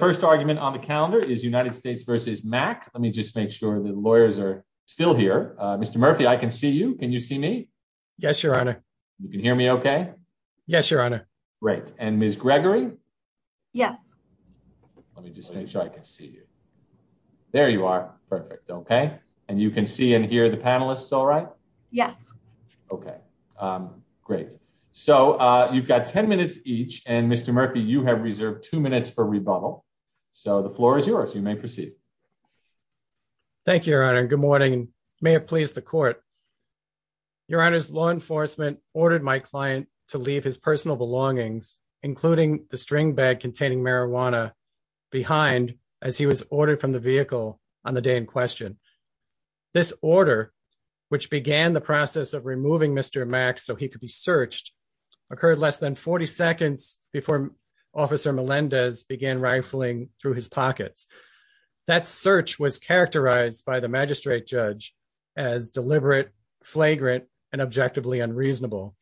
first argument on the calendar is United States v. Mack. Let me just make sure the lawyers are still here. Mr. Murphy, I can see you. Can you see me? Yes, your honor. You can hear me okay? Yes, your honor. Great. And Ms. Gregory? Yes. Let me just make sure I can see you. There you are. Perfect. Okay. And you can see and hear the panelists. All right. Yes. Okay. Great. So you've got 10 minutes each. And Mr. Murphy, you have reserved two minutes for rebuttal. So the floor is yours. You may proceed. Thank you, your honor. Good morning. May it please the court. Your honor's law enforcement ordered my client to leave his personal belongings, including the string bag containing marijuana behind as he was ordered from the vehicle on the day in question. This order, which began the process of removing Mr. Mack so he could be searched, occurred less than 40 seconds before Officer Melendez began rifling through his pockets. That search was characterized by the magistrate judge as deliberate, flagrant and objectively unreasonable.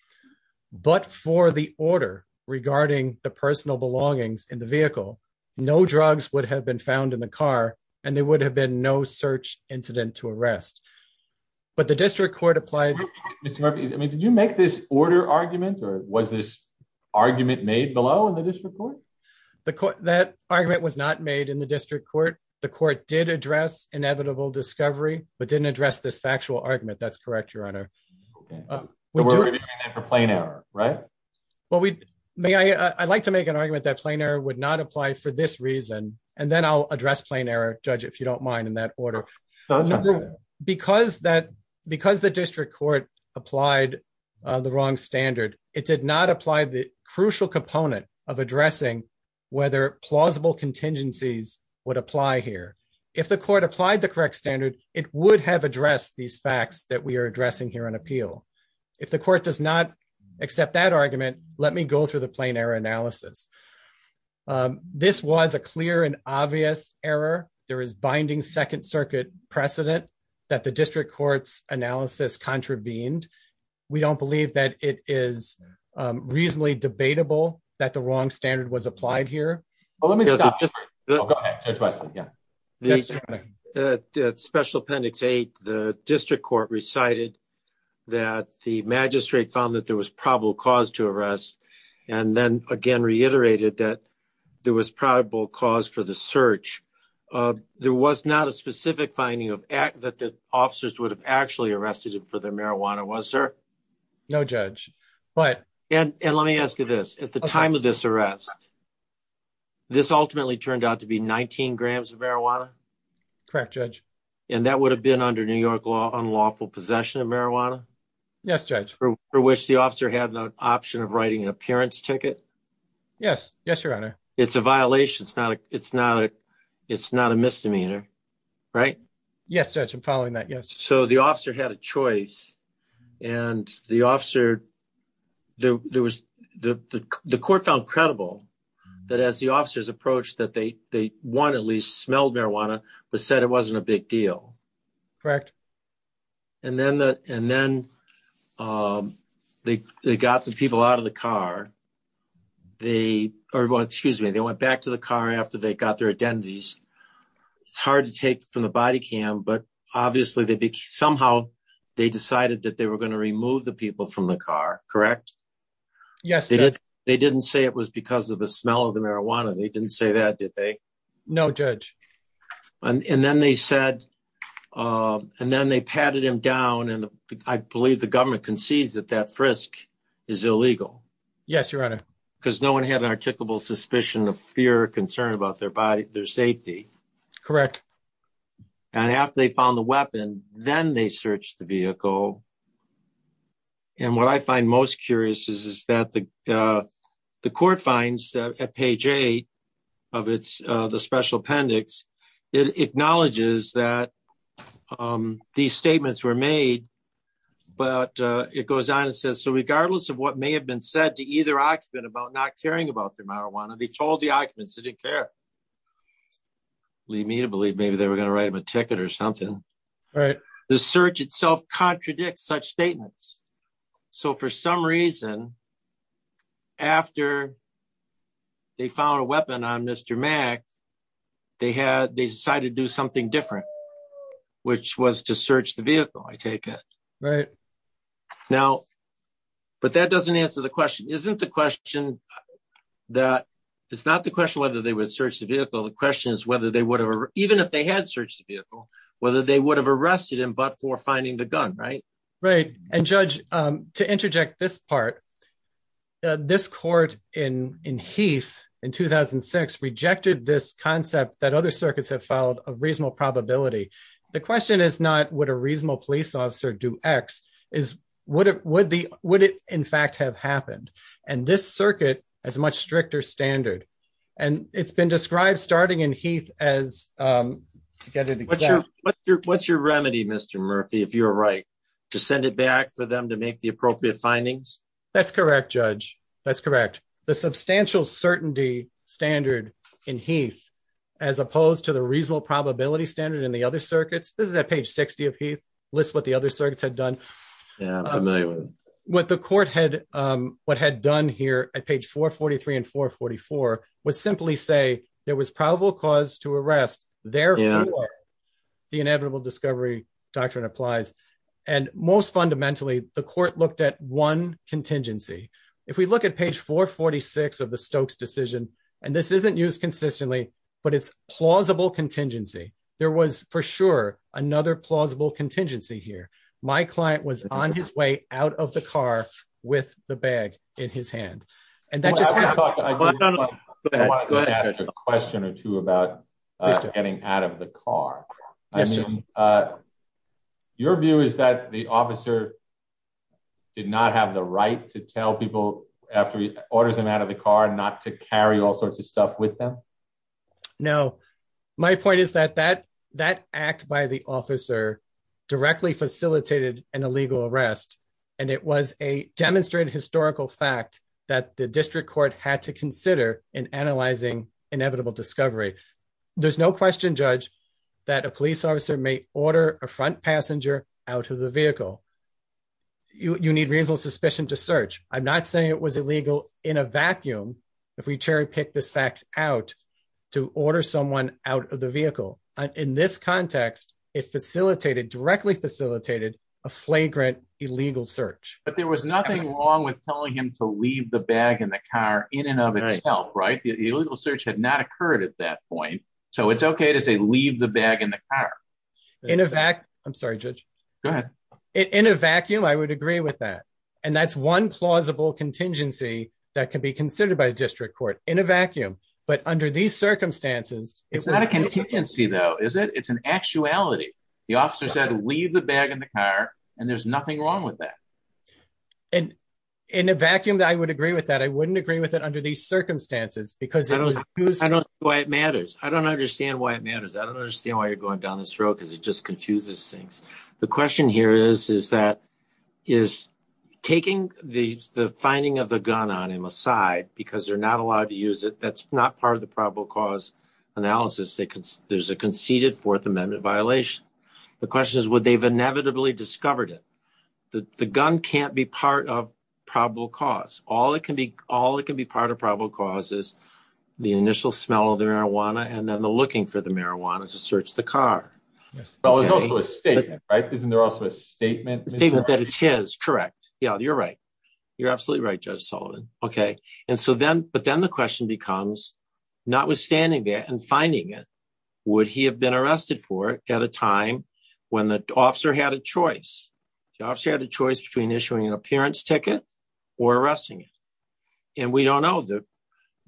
But for the order regarding the personal belongings in the vehicle, no drugs would have been found in the car and there would have been no search incident to arrest. But the district court applied. Mr. Murphy, I mean, did you make this order argument or was this argument made below in the district court? The court that argument was not made in the district court. The court did address inevitable discovery, but didn't address this factual argument. That's correct, your honor. We're ready for plain error, right? Well, we may I like to make an argument that plain error would not apply for this reason. And then I'll address plain error, judge, if you don't mind in that order. Because that because the district court applied the wrong standard, it did not apply the crucial component of addressing whether plausible contingencies would apply here. If the court applied the correct standard, it would have addressed these facts that we are addressing here on appeal. If the court does not accept that argument, let me go through the plain error analysis. This was a clear and obvious error. There is binding Second Circuit precedent that the district court's analysis contravened. We don't believe that it is reasonably debatable that the wrong standard was applied here. But let me just go ahead twice again. The special appendix eight, the district court recited that the magistrate found that there was probable cause to arrest. And then again, reiterated that there was probable cause for the search. There was not a specific finding of act that the officers would have actually arrested him for the marijuana was there? No, judge. But and let me ask you this at the time of this arrest. This ultimately turned out to be 19 grams of marijuana. Correct, judge. And that would have been under New York law unlawful possession of marijuana. Yes, judge. For which the officer had no option of writing an appearance ticket. Yes. Yes, your honor. It's a violation. It's not a it's not a it's not a misdemeanor. Right? Yes, judge. I'm following that. Yes. So the officer had a choice. And the officer there was the court found credible that as the officers approach that they they want at least smelled but said it wasn't a big deal. Correct. And then the and then they got the people out of the car. They are going to choose me they went back to the car after they got their identities. It's hard to take from the body cam. But obviously, they somehow, they decided that they were going to remove the people from the car. Correct? Yes, they did. They didn't say it was because of the smell of the marijuana. They didn't say that, did they? No, judge. And then they said, and then they patted him down. And I believe the government concedes that that frisk is illegal. Yes, your honor. Because no one had an articulable suspicion of fear or concern about their body, their safety. Correct. And after they found the weapon, then they searched the vehicle. And what I find most curious is that the the court finds at page eight of its the special appendix, it acknowledges that these statements were made. But it goes on and says, so regardless of what may have been said to either occupant about not caring about the marijuana, they told the occupants they didn't care. Leave me to believe maybe they were going to write him a ticket or something. The search itself contradicts such statements. So for some reason, after they found a weapon on Mr. Mack, they had they decided to do something different, which was to search the vehicle, I take it. Right. Now, but that doesn't answer the question, isn't the question that it's not the question whether they would search the vehicle. The question is whether they even if they had searched the vehicle, whether they would have arrested him, but for finding the gun. Right. Right. And judge, to interject this part, this court in in Heath in 2006, rejected this concept that other circuits have filed a reasonable probability. The question is not what a reasonable police officer do X is what would the would it in fact have happened? And this circuit as much stricter standard. And it's been described starting in Heath as to get it. What's your what's your what's your remedy, Mr. Murphy, if you're right, to send it back for them to make the appropriate findings? That's correct, Judge. That's correct. The substantial certainty standard in Heath, as opposed to the reasonable probability standard in the other circuits. This is that page 60 of Heath lists what the other circuits had done. Yeah, I'm familiar with what the court had, what had done here at page 443 and 444 was simply say there was probable cause to arrest their the inevitable discovery doctrine applies. And most fundamentally, the court looked at one contingency. If we look at page 446 of the Stokes decision, and this isn't used consistently, but it's plausible contingency. There was for sure another plausible contingency here. My client was on his way out of the car with the bag in his hand. And that just question or two about getting out of the car. I mean, your view is that the officer did not have the right to tell people after he orders him out of the car not to carry all sorts stuff with them. No, my point is that that that act by the officer directly facilitated an illegal arrest. And it was a demonstrated historical fact that the district court had to consider in analyzing inevitable discovery. There's no question, Judge, that a police officer may order a front passenger out of the vehicle. You need reasonable suspicion to search. I'm not saying it was illegal in a vacuum. If we cherry pick this fact out to order someone out of the vehicle. In this context, it facilitated directly facilitated a flagrant illegal search. But there was nothing wrong with telling him to leave the bag in the car in and of itself, right? The illegal search had not occurred at that point. So it's okay to say leave the bag in the car. In a vac. I'm sorry, Judge. In a vacuum, I would agree with that. And that's one plausible contingency that can be considered by the district court in a vacuum. But under these circumstances, it's not a contingency, though, is it? It's an actuality. The officer said, leave the bag in the car. And there's nothing wrong with that. And in a vacuum that I would agree with that, I wouldn't agree with it under these circumstances, because I don't know why it matters. I don't understand why it matters. I don't understand why you're going down this road, because it just confuses things. The question here is, is that, is taking the finding of the gun on him aside, because they're not allowed to use it, that's not part of the probable cause analysis. There's a conceded Fourth Amendment violation. The question is, would they have inevitably discovered it? The gun can't be part of probable cause. All it can be part of probable cause is the initial smell of the marijuana and then the looking for the marijuana to search the state, right? Isn't there also a statement statement that it's his correct? Yeah, you're right. You're absolutely right, Judge Sullivan. Okay. And so then but then the question becomes, notwithstanding that and finding it, would he have been arrested for it at a time when the officer had a choice? The officer had a choice between issuing an appearance ticket or arresting it. And we don't know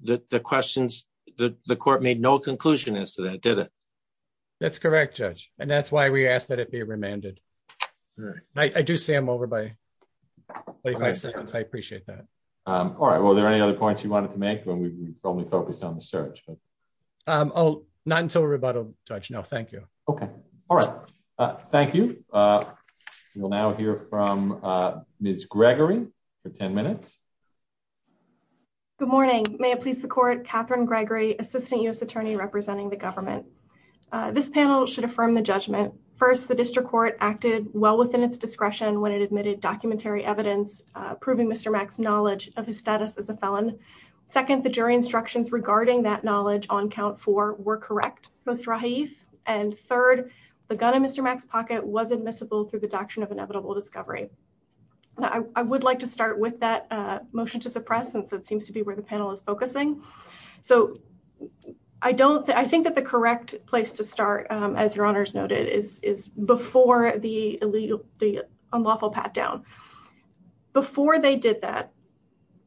that the questions that the court made no conclusion as to that, did it? That's correct, Judge. And that's why we asked that it be remanded. I do say I'm over by 25 seconds. I appreciate that. All right. Well, are there any other points you wanted to make when we've only focused on the search? Oh, not until rebuttal, Judge. No, thank you. Okay. All right. Thank you. We'll now hear from Ms. Gregory for 10 minutes. Good morning. May it please the This panel should affirm the judgment. First, the district court acted well within its discretion when it admitted documentary evidence, proving Mr. Mack's knowledge of his status as a felon. Second, the jury instructions regarding that knowledge on count four were correct, post-Rahaif. And third, the gun in Mr. Mack's pocket was admissible through the doctrine of inevitable discovery. I would like to start with that motion to suppress since it seems to be where the panel is focusing. So I think that the correct place to start, as your honors noted, is before the unlawful pat down. Before they did that,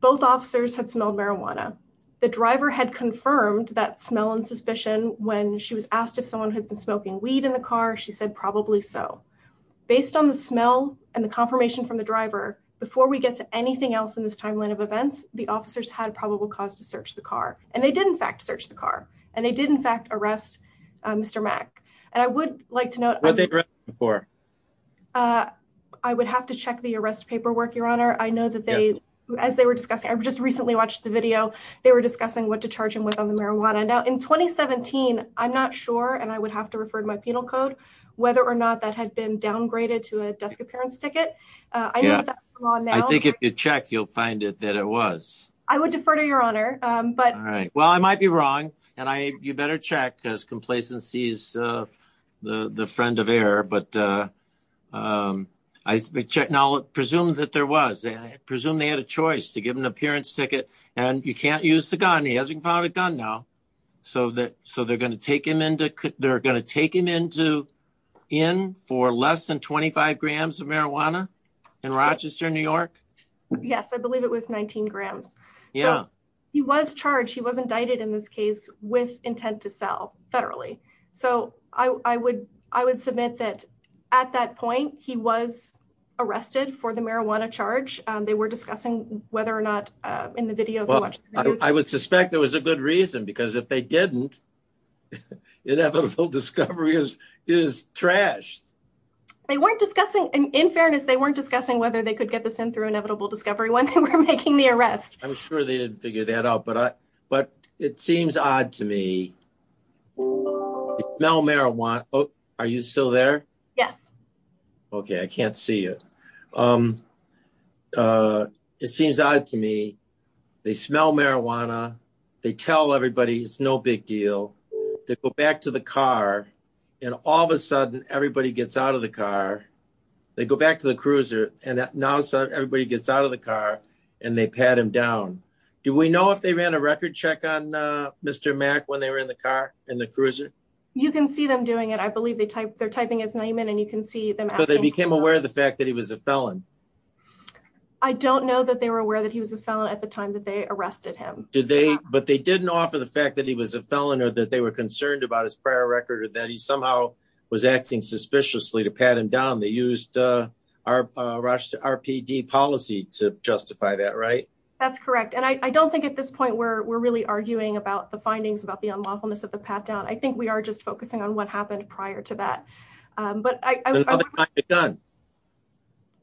both officers had smelled marijuana. The driver had confirmed that smell and suspicion when she was asked if someone had been smoking weed in the car, she said, probably so. Based on the smell and the confirmation from the driver, before we get to anything else in this timeline of events, the officers had a probable cause to search the car. And they did, in fact, search the car. And they did, in fact, arrest Mr. Mack. And I would like to note, I would have to check the arrest paperwork, your honor. I know that they, as they were discussing, I've just recently watched the video. They were discussing what to charge him with on the marijuana. Now in 2017, I'm not sure, and I would have to refer to my penal code, whether or not that had been downgraded to a desk appearance ticket. I think if you check, you'll find it that it was. I would defer to your honor. All right. Well, I might be wrong. And you better check because complacency is the friend of error. But I checked. Now, presume that there was. Presume they had a choice to give him an appearance ticket and you can't use the gun. He hasn't found a gun now. So they're going to take him into, in for less than 25 grams of marijuana in Rochester, New York. Yes, I believe it was 19 grams. Yeah, he was charged. He was indicted in this case with intent to sell federally. So I would, I would submit that at that point he was arrested for the marijuana charge. They were discussing whether or not in the video. I would suspect there was a good reason because if they didn't, inevitable discovery is, is trash. They weren't discussing, in fairness, they weren't discussing whether they could get this in through inevitable discovery when they were making the arrest. I'm sure they didn't figure that out, but I, but it seems odd to me. They smell marijuana. Oh, are you still there? Yes. Okay. I can't see you. It seems odd to me. They smell marijuana. They tell everybody it's no big deal. They go back to the car and all of a sudden everybody gets out of the car. They go back to the cruiser and now everybody gets out of the car and they pat him down. Do we know if they ran a record check on Mr. Mack when they were in the car in the cruiser? You can see them doing it. I believe they type, they're typing his name in and you can see them. So they became aware of the fact that he was a felon? I don't know that they were aware that he was a felon at the time that they arrested him. Did they, but they didn't offer the fact that he was a felon or that they were concerned about his prior record or that he somehow was acting suspiciously to pat him down. They used RPD policy to justify that, right? That's correct. And I don't think at this point where we're really arguing about the findings, about the unlawfulness of the pat down. I think we are just focusing on what happened prior to that. But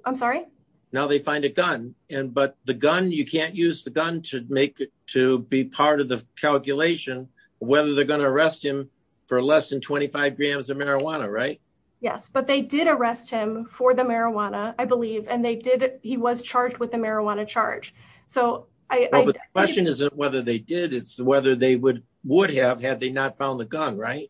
I'm sorry. Now they find a gun and, but the gun, you can't use the gun to make it, to be part of the calculation, whether they're going to arrest him for less than 25 grams of marijuana, right? Yes, but they did arrest him for the marijuana, I believe. And they did, he was charged with the marijuana charge. So the question isn't whether they did, whether they would have had they not found the gun, right?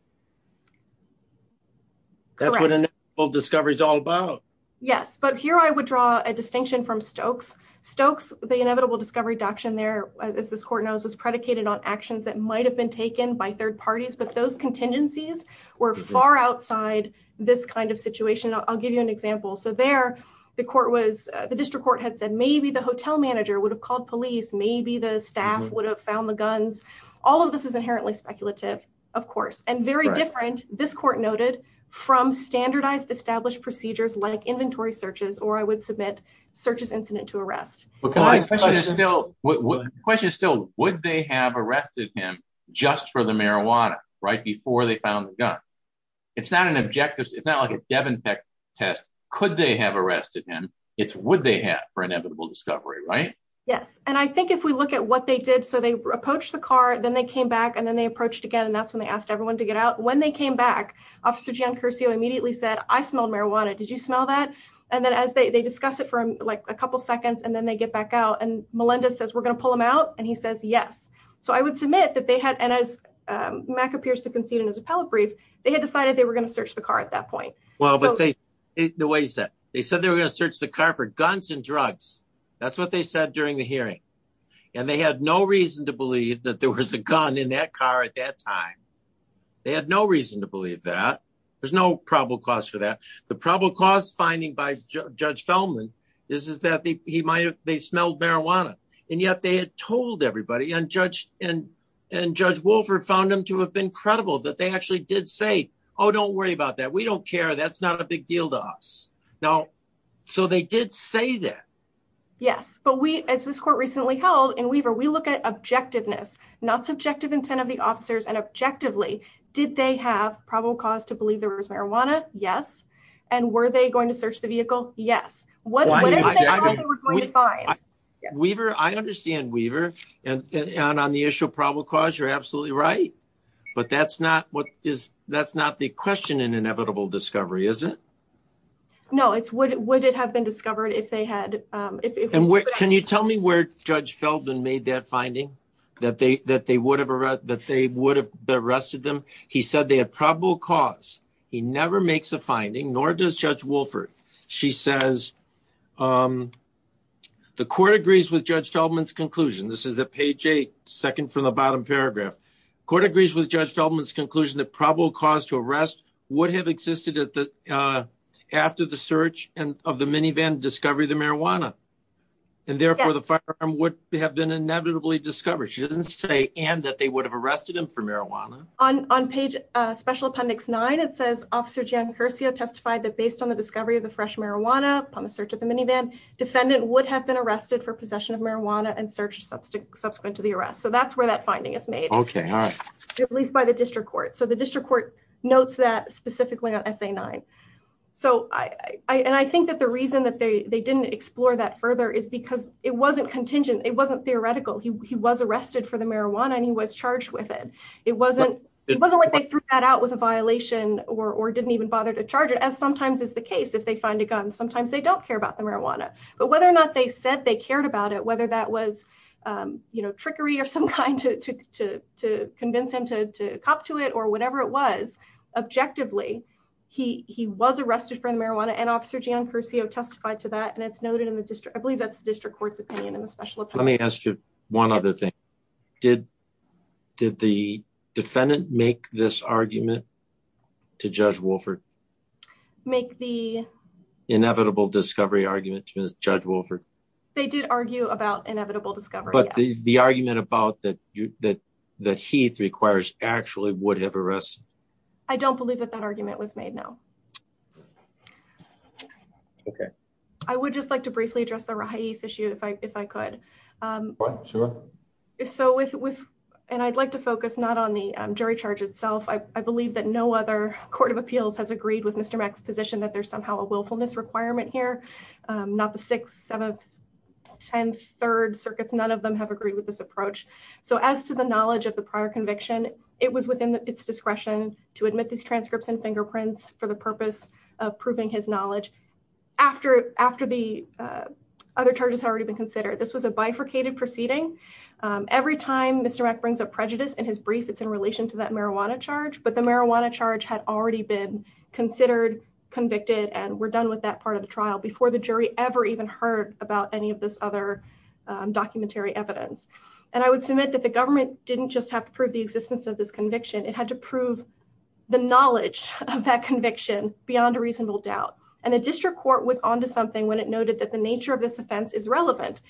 Correct. That's what an inevitable discovery is all about. Yes. But here I would draw a distinction from Stokes. Stokes, the inevitable discovery doctrine there, as this court knows, was predicated on actions that might've been taken by third parties, but those contingencies were far outside this kind of situation. I'll give you an example. So there the court was, the district court had said, maybe the hotel manager would have called police. Maybe the all of this is inherently speculative, of course, and very different. This court noted from standardized established procedures like inventory searches, or I would submit searches incident to arrest. The question is still, would they have arrested him just for the marijuana right before they found the gun? It's not an objective. It's not like a Devon test. Could they have arrested him? It's would they have for inevitable discovery, right? Yes. And I think we look at what they did. So they approached the car, then they came back and then they approached again. And that's when they asked everyone to get out. When they came back, officer Giancursio immediately said, I smelled marijuana. Did you smell that? And then as they discuss it for like a couple of seconds and then they get back out and Melinda says, we're going to pull them out. And he says, yes. So I would submit that they had, and as Mac appears to concede in his appellate brief, they had decided they were going to search the car at that point. Well, but they, the way he said, they said they were going to search the car for guns and drugs. That's what they said during the hearing. And they had no reason to believe that there was a gun in that car at that time. They had no reason to believe that there's no probable cause for that. The probable cause finding by judge Feldman, this is that he might have, they smelled marijuana and yet they had told everybody and judge and judge Wolfer found them to have been credible that they actually did say, Oh, don't worry about that. We don't care. That's not a big deal to us now. So they did say that. Yes. But we, as this court recently held in Weaver, we look at objectiveness, not subjective intent of the officers and objectively, did they have probable cause to believe there was marijuana? Yes. And were they going to search the vehicle? Yes. Weaver, I understand Weaver and on the issue of probable cause, you're absolutely right. But that's not what is, that's not the question in inevitable discovery, is it? No, it's what would it have been discovered if they had, um, if, if, can you tell me where judge Feldman made that finding that they, that they would have, that they would have been arrested them. He said they had probable cause. He never makes a finding, nor does judge Wolfer. She says, um, the court agrees with judge Feldman's conclusion. This is a page eight second from the bottom paragraph court agrees with judge Feldman's conclusion that probable cause to search and of the minivan discovery of the marijuana. And therefore the firearm would have been inevitably discovered. She didn't say, and that they would have arrested him for marijuana on, on page, uh, special appendix nine. It says officer Jen Garcia testified that based on the discovery of the fresh marijuana on the search of the minivan defendant would have been arrested for possession of marijuana and searched substitute subsequent to the arrest. So that's where that finding is made, at least by the district court. So the district court notes that specifically on essay nine. So I, I, and I think that the reason that they, they didn't explore that further is because it wasn't contingent. It wasn't theoretical. He was arrested for the marijuana and he was charged with it. It wasn't, it wasn't like they threw that out with a violation or, or didn't even bother to charge it as sometimes as the case, if they find a gun, sometimes they don't care about the marijuana, but whether or not they said they cared about it, whether that was, um, you know, trickery of some kind to, to, to, to convince him to, to cop to it or whatever it was objectively, he, he was arrested for the marijuana and officer Gian Cursio testified to that. And it's noted in the district. I believe that's the district court's opinion in the special. Let me ask you one other thing. Did, did the defendant make this argument to judge Wolford make the inevitable discovery argument to judge Wolford? They did argue about inevitable discovery, but the argument about that, that, that Heath requires actually would have a rest. I don't believe that that argument was made now. Okay. I would just like to briefly address the right issue if I, if I could. Um, so with, with, and I'd like to focus not on the jury charge itself. I believe that no other court of appeals has agreed with Mr. Mack's position that there's somehow a willfulness requirement here. Um, not the sixth, seventh, 10th, third circuits. None of them have agreed with this approach. So as to the knowledge of the prior conviction, it was within its discretion to admit these transcripts and fingerprints for the purpose of proving his knowledge after, after the, uh, other charges had already been considered. This was a bifurcated proceeding. Um, every time Mr. Mack brings up prejudice in his brief, it's in relation to that marijuana charge, but the marijuana charge had already been considered convicted. And we're done with that part of the trial before the jury ever even heard about any of this other, um, and I would submit that the government didn't just have to prove the existence of this conviction. It had to prove the knowledge of that conviction beyond a reasonable doubt. And the district court was onto something when it noted that the nature of this offense is relevant.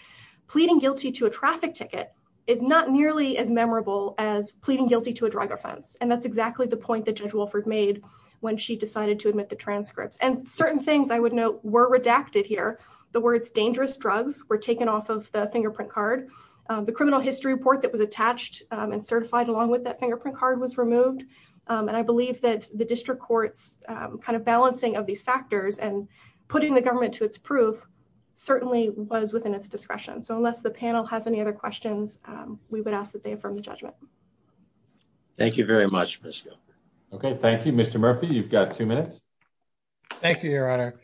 Pleading guilty to a traffic ticket is not nearly as memorable as pleading guilty to a drug offense. And that's exactly the point that judge Wilford made when she decided to admit the transcripts and certain things I would note were redacted here. The words dangerous drugs were taken off of the fingerprint card. Um, the criminal history report that was attached and certified along with that fingerprint card was removed. Um, and I believe that the district courts, um, kind of balancing of these factors and putting the government to its proof certainly was within its discretion. So unless the panel has any other questions, um, we would ask that they affirm the judgment. Thank you very much. Okay. Thank you, Mr Murphy. You've got two minutes. Thank you, Your Honor.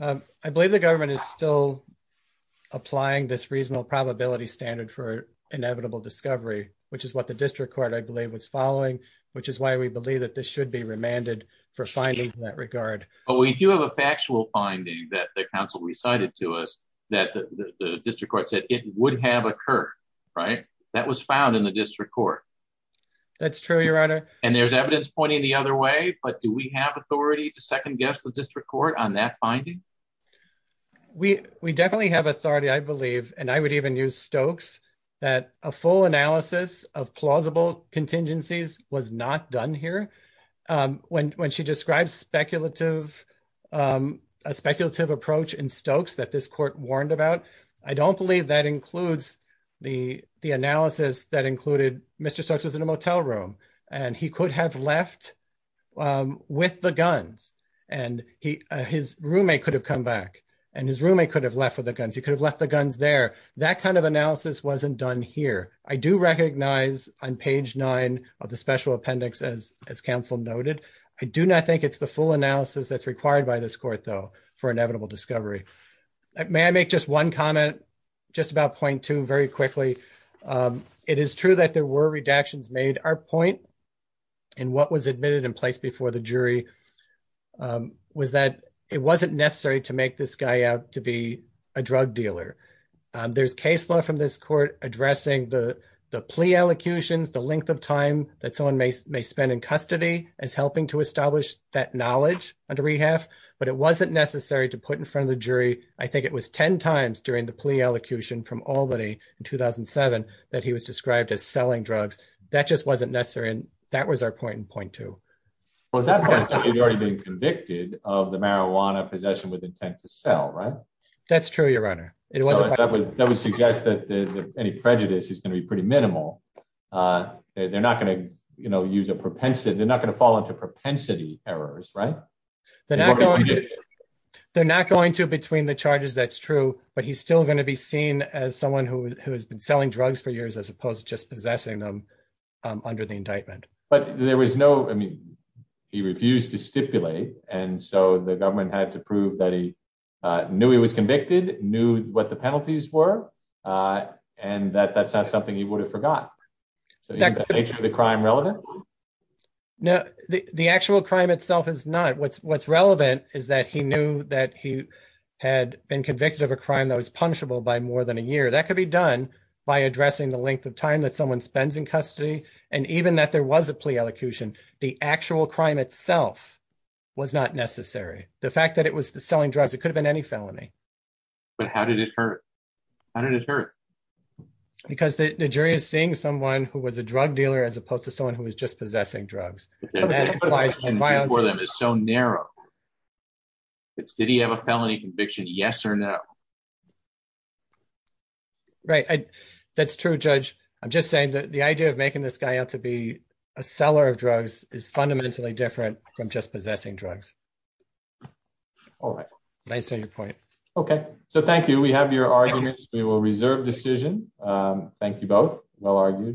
Um, I believe the government is still applying this reasonable probability standard for inevitable discovery, which is what the district court I believe was following, which is why we believe that this should be remanded for finding that regard. But we do have a factual finding that the council recited to us that the district court said it would have occurred, right? That was found in the district court. That's true, and there's evidence pointing the other way. But do we have authority to second guess the district court on that finding? We definitely have authority, I believe, and I would even use Stokes that a full analysis of plausible contingencies was not done here. Um, when she describes a speculative approach in Stokes that this court warned about, I don't believe that includes the analysis that included Mr Stokes was in a motel room, and he could have left with the guns, and his roommate could have come back, and his roommate could have left with the guns. He could have left the guns there. That kind of analysis wasn't done here. I do recognize on page nine of the special appendix, as council noted, I do not think it's the full analysis that's required by this court, though, for inevitable discovery. May I make just one comment, just about point two, very quickly. It is true that there were redactions made. Our point in what was admitted in place before the jury was that it wasn't necessary to make this guy out to be a drug dealer. There's case law from this court addressing the plea allocutions, the length of time that someone may spend in custody as helping to establish that knowledge under rehab, but it wasn't necessary to put in front of the jury. I think it was 10 times during the plea allocution from Albany in 2007 that he was described as selling drugs. That just wasn't necessary, and that was our point in point two. Well, at that point, he's already been convicted of the marijuana possession with intent to sell, right? That's true, your honor. It wasn't. That would suggest that any prejudice is going to be pretty minimal. They're not going to use a propensity. They're not going to fall into propensity errors, right? They're not going to between the charges. That's true, but he's still going to be seen as someone who has been selling drugs for years as opposed to just possessing them under the indictment. But there was no, I mean, he refused to stipulate, and so the government had to prove that he knew he was convicted, knew what the penalties were, and that that's not something he would have forgot. So is the nature of the crime relevant? No, the actual crime itself is not. What's relevant is that he knew that he had been convicted of a crime that was punishable by more than a year. That could be done by addressing the length of time that someone spends in custody, and even that there was a plea allocution, the actual crime itself was not necessary. The fact that it was the selling drugs, it could have been any felony. But how did it hurt? How did it hurt? Because the jury is seeing someone who was a drug dealer as opposed to someone who was just possessing drugs. That's so narrow. It's did he have a felony conviction, yes or no? Right, that's true, Judge. I'm just saying that the idea of making this guy out to be a seller of drugs is fundamentally different from just possessing drugs. All right. Nice on your point. Okay, so thank you. We have your arguments. We will reserve decision. Thank you both. Well argued.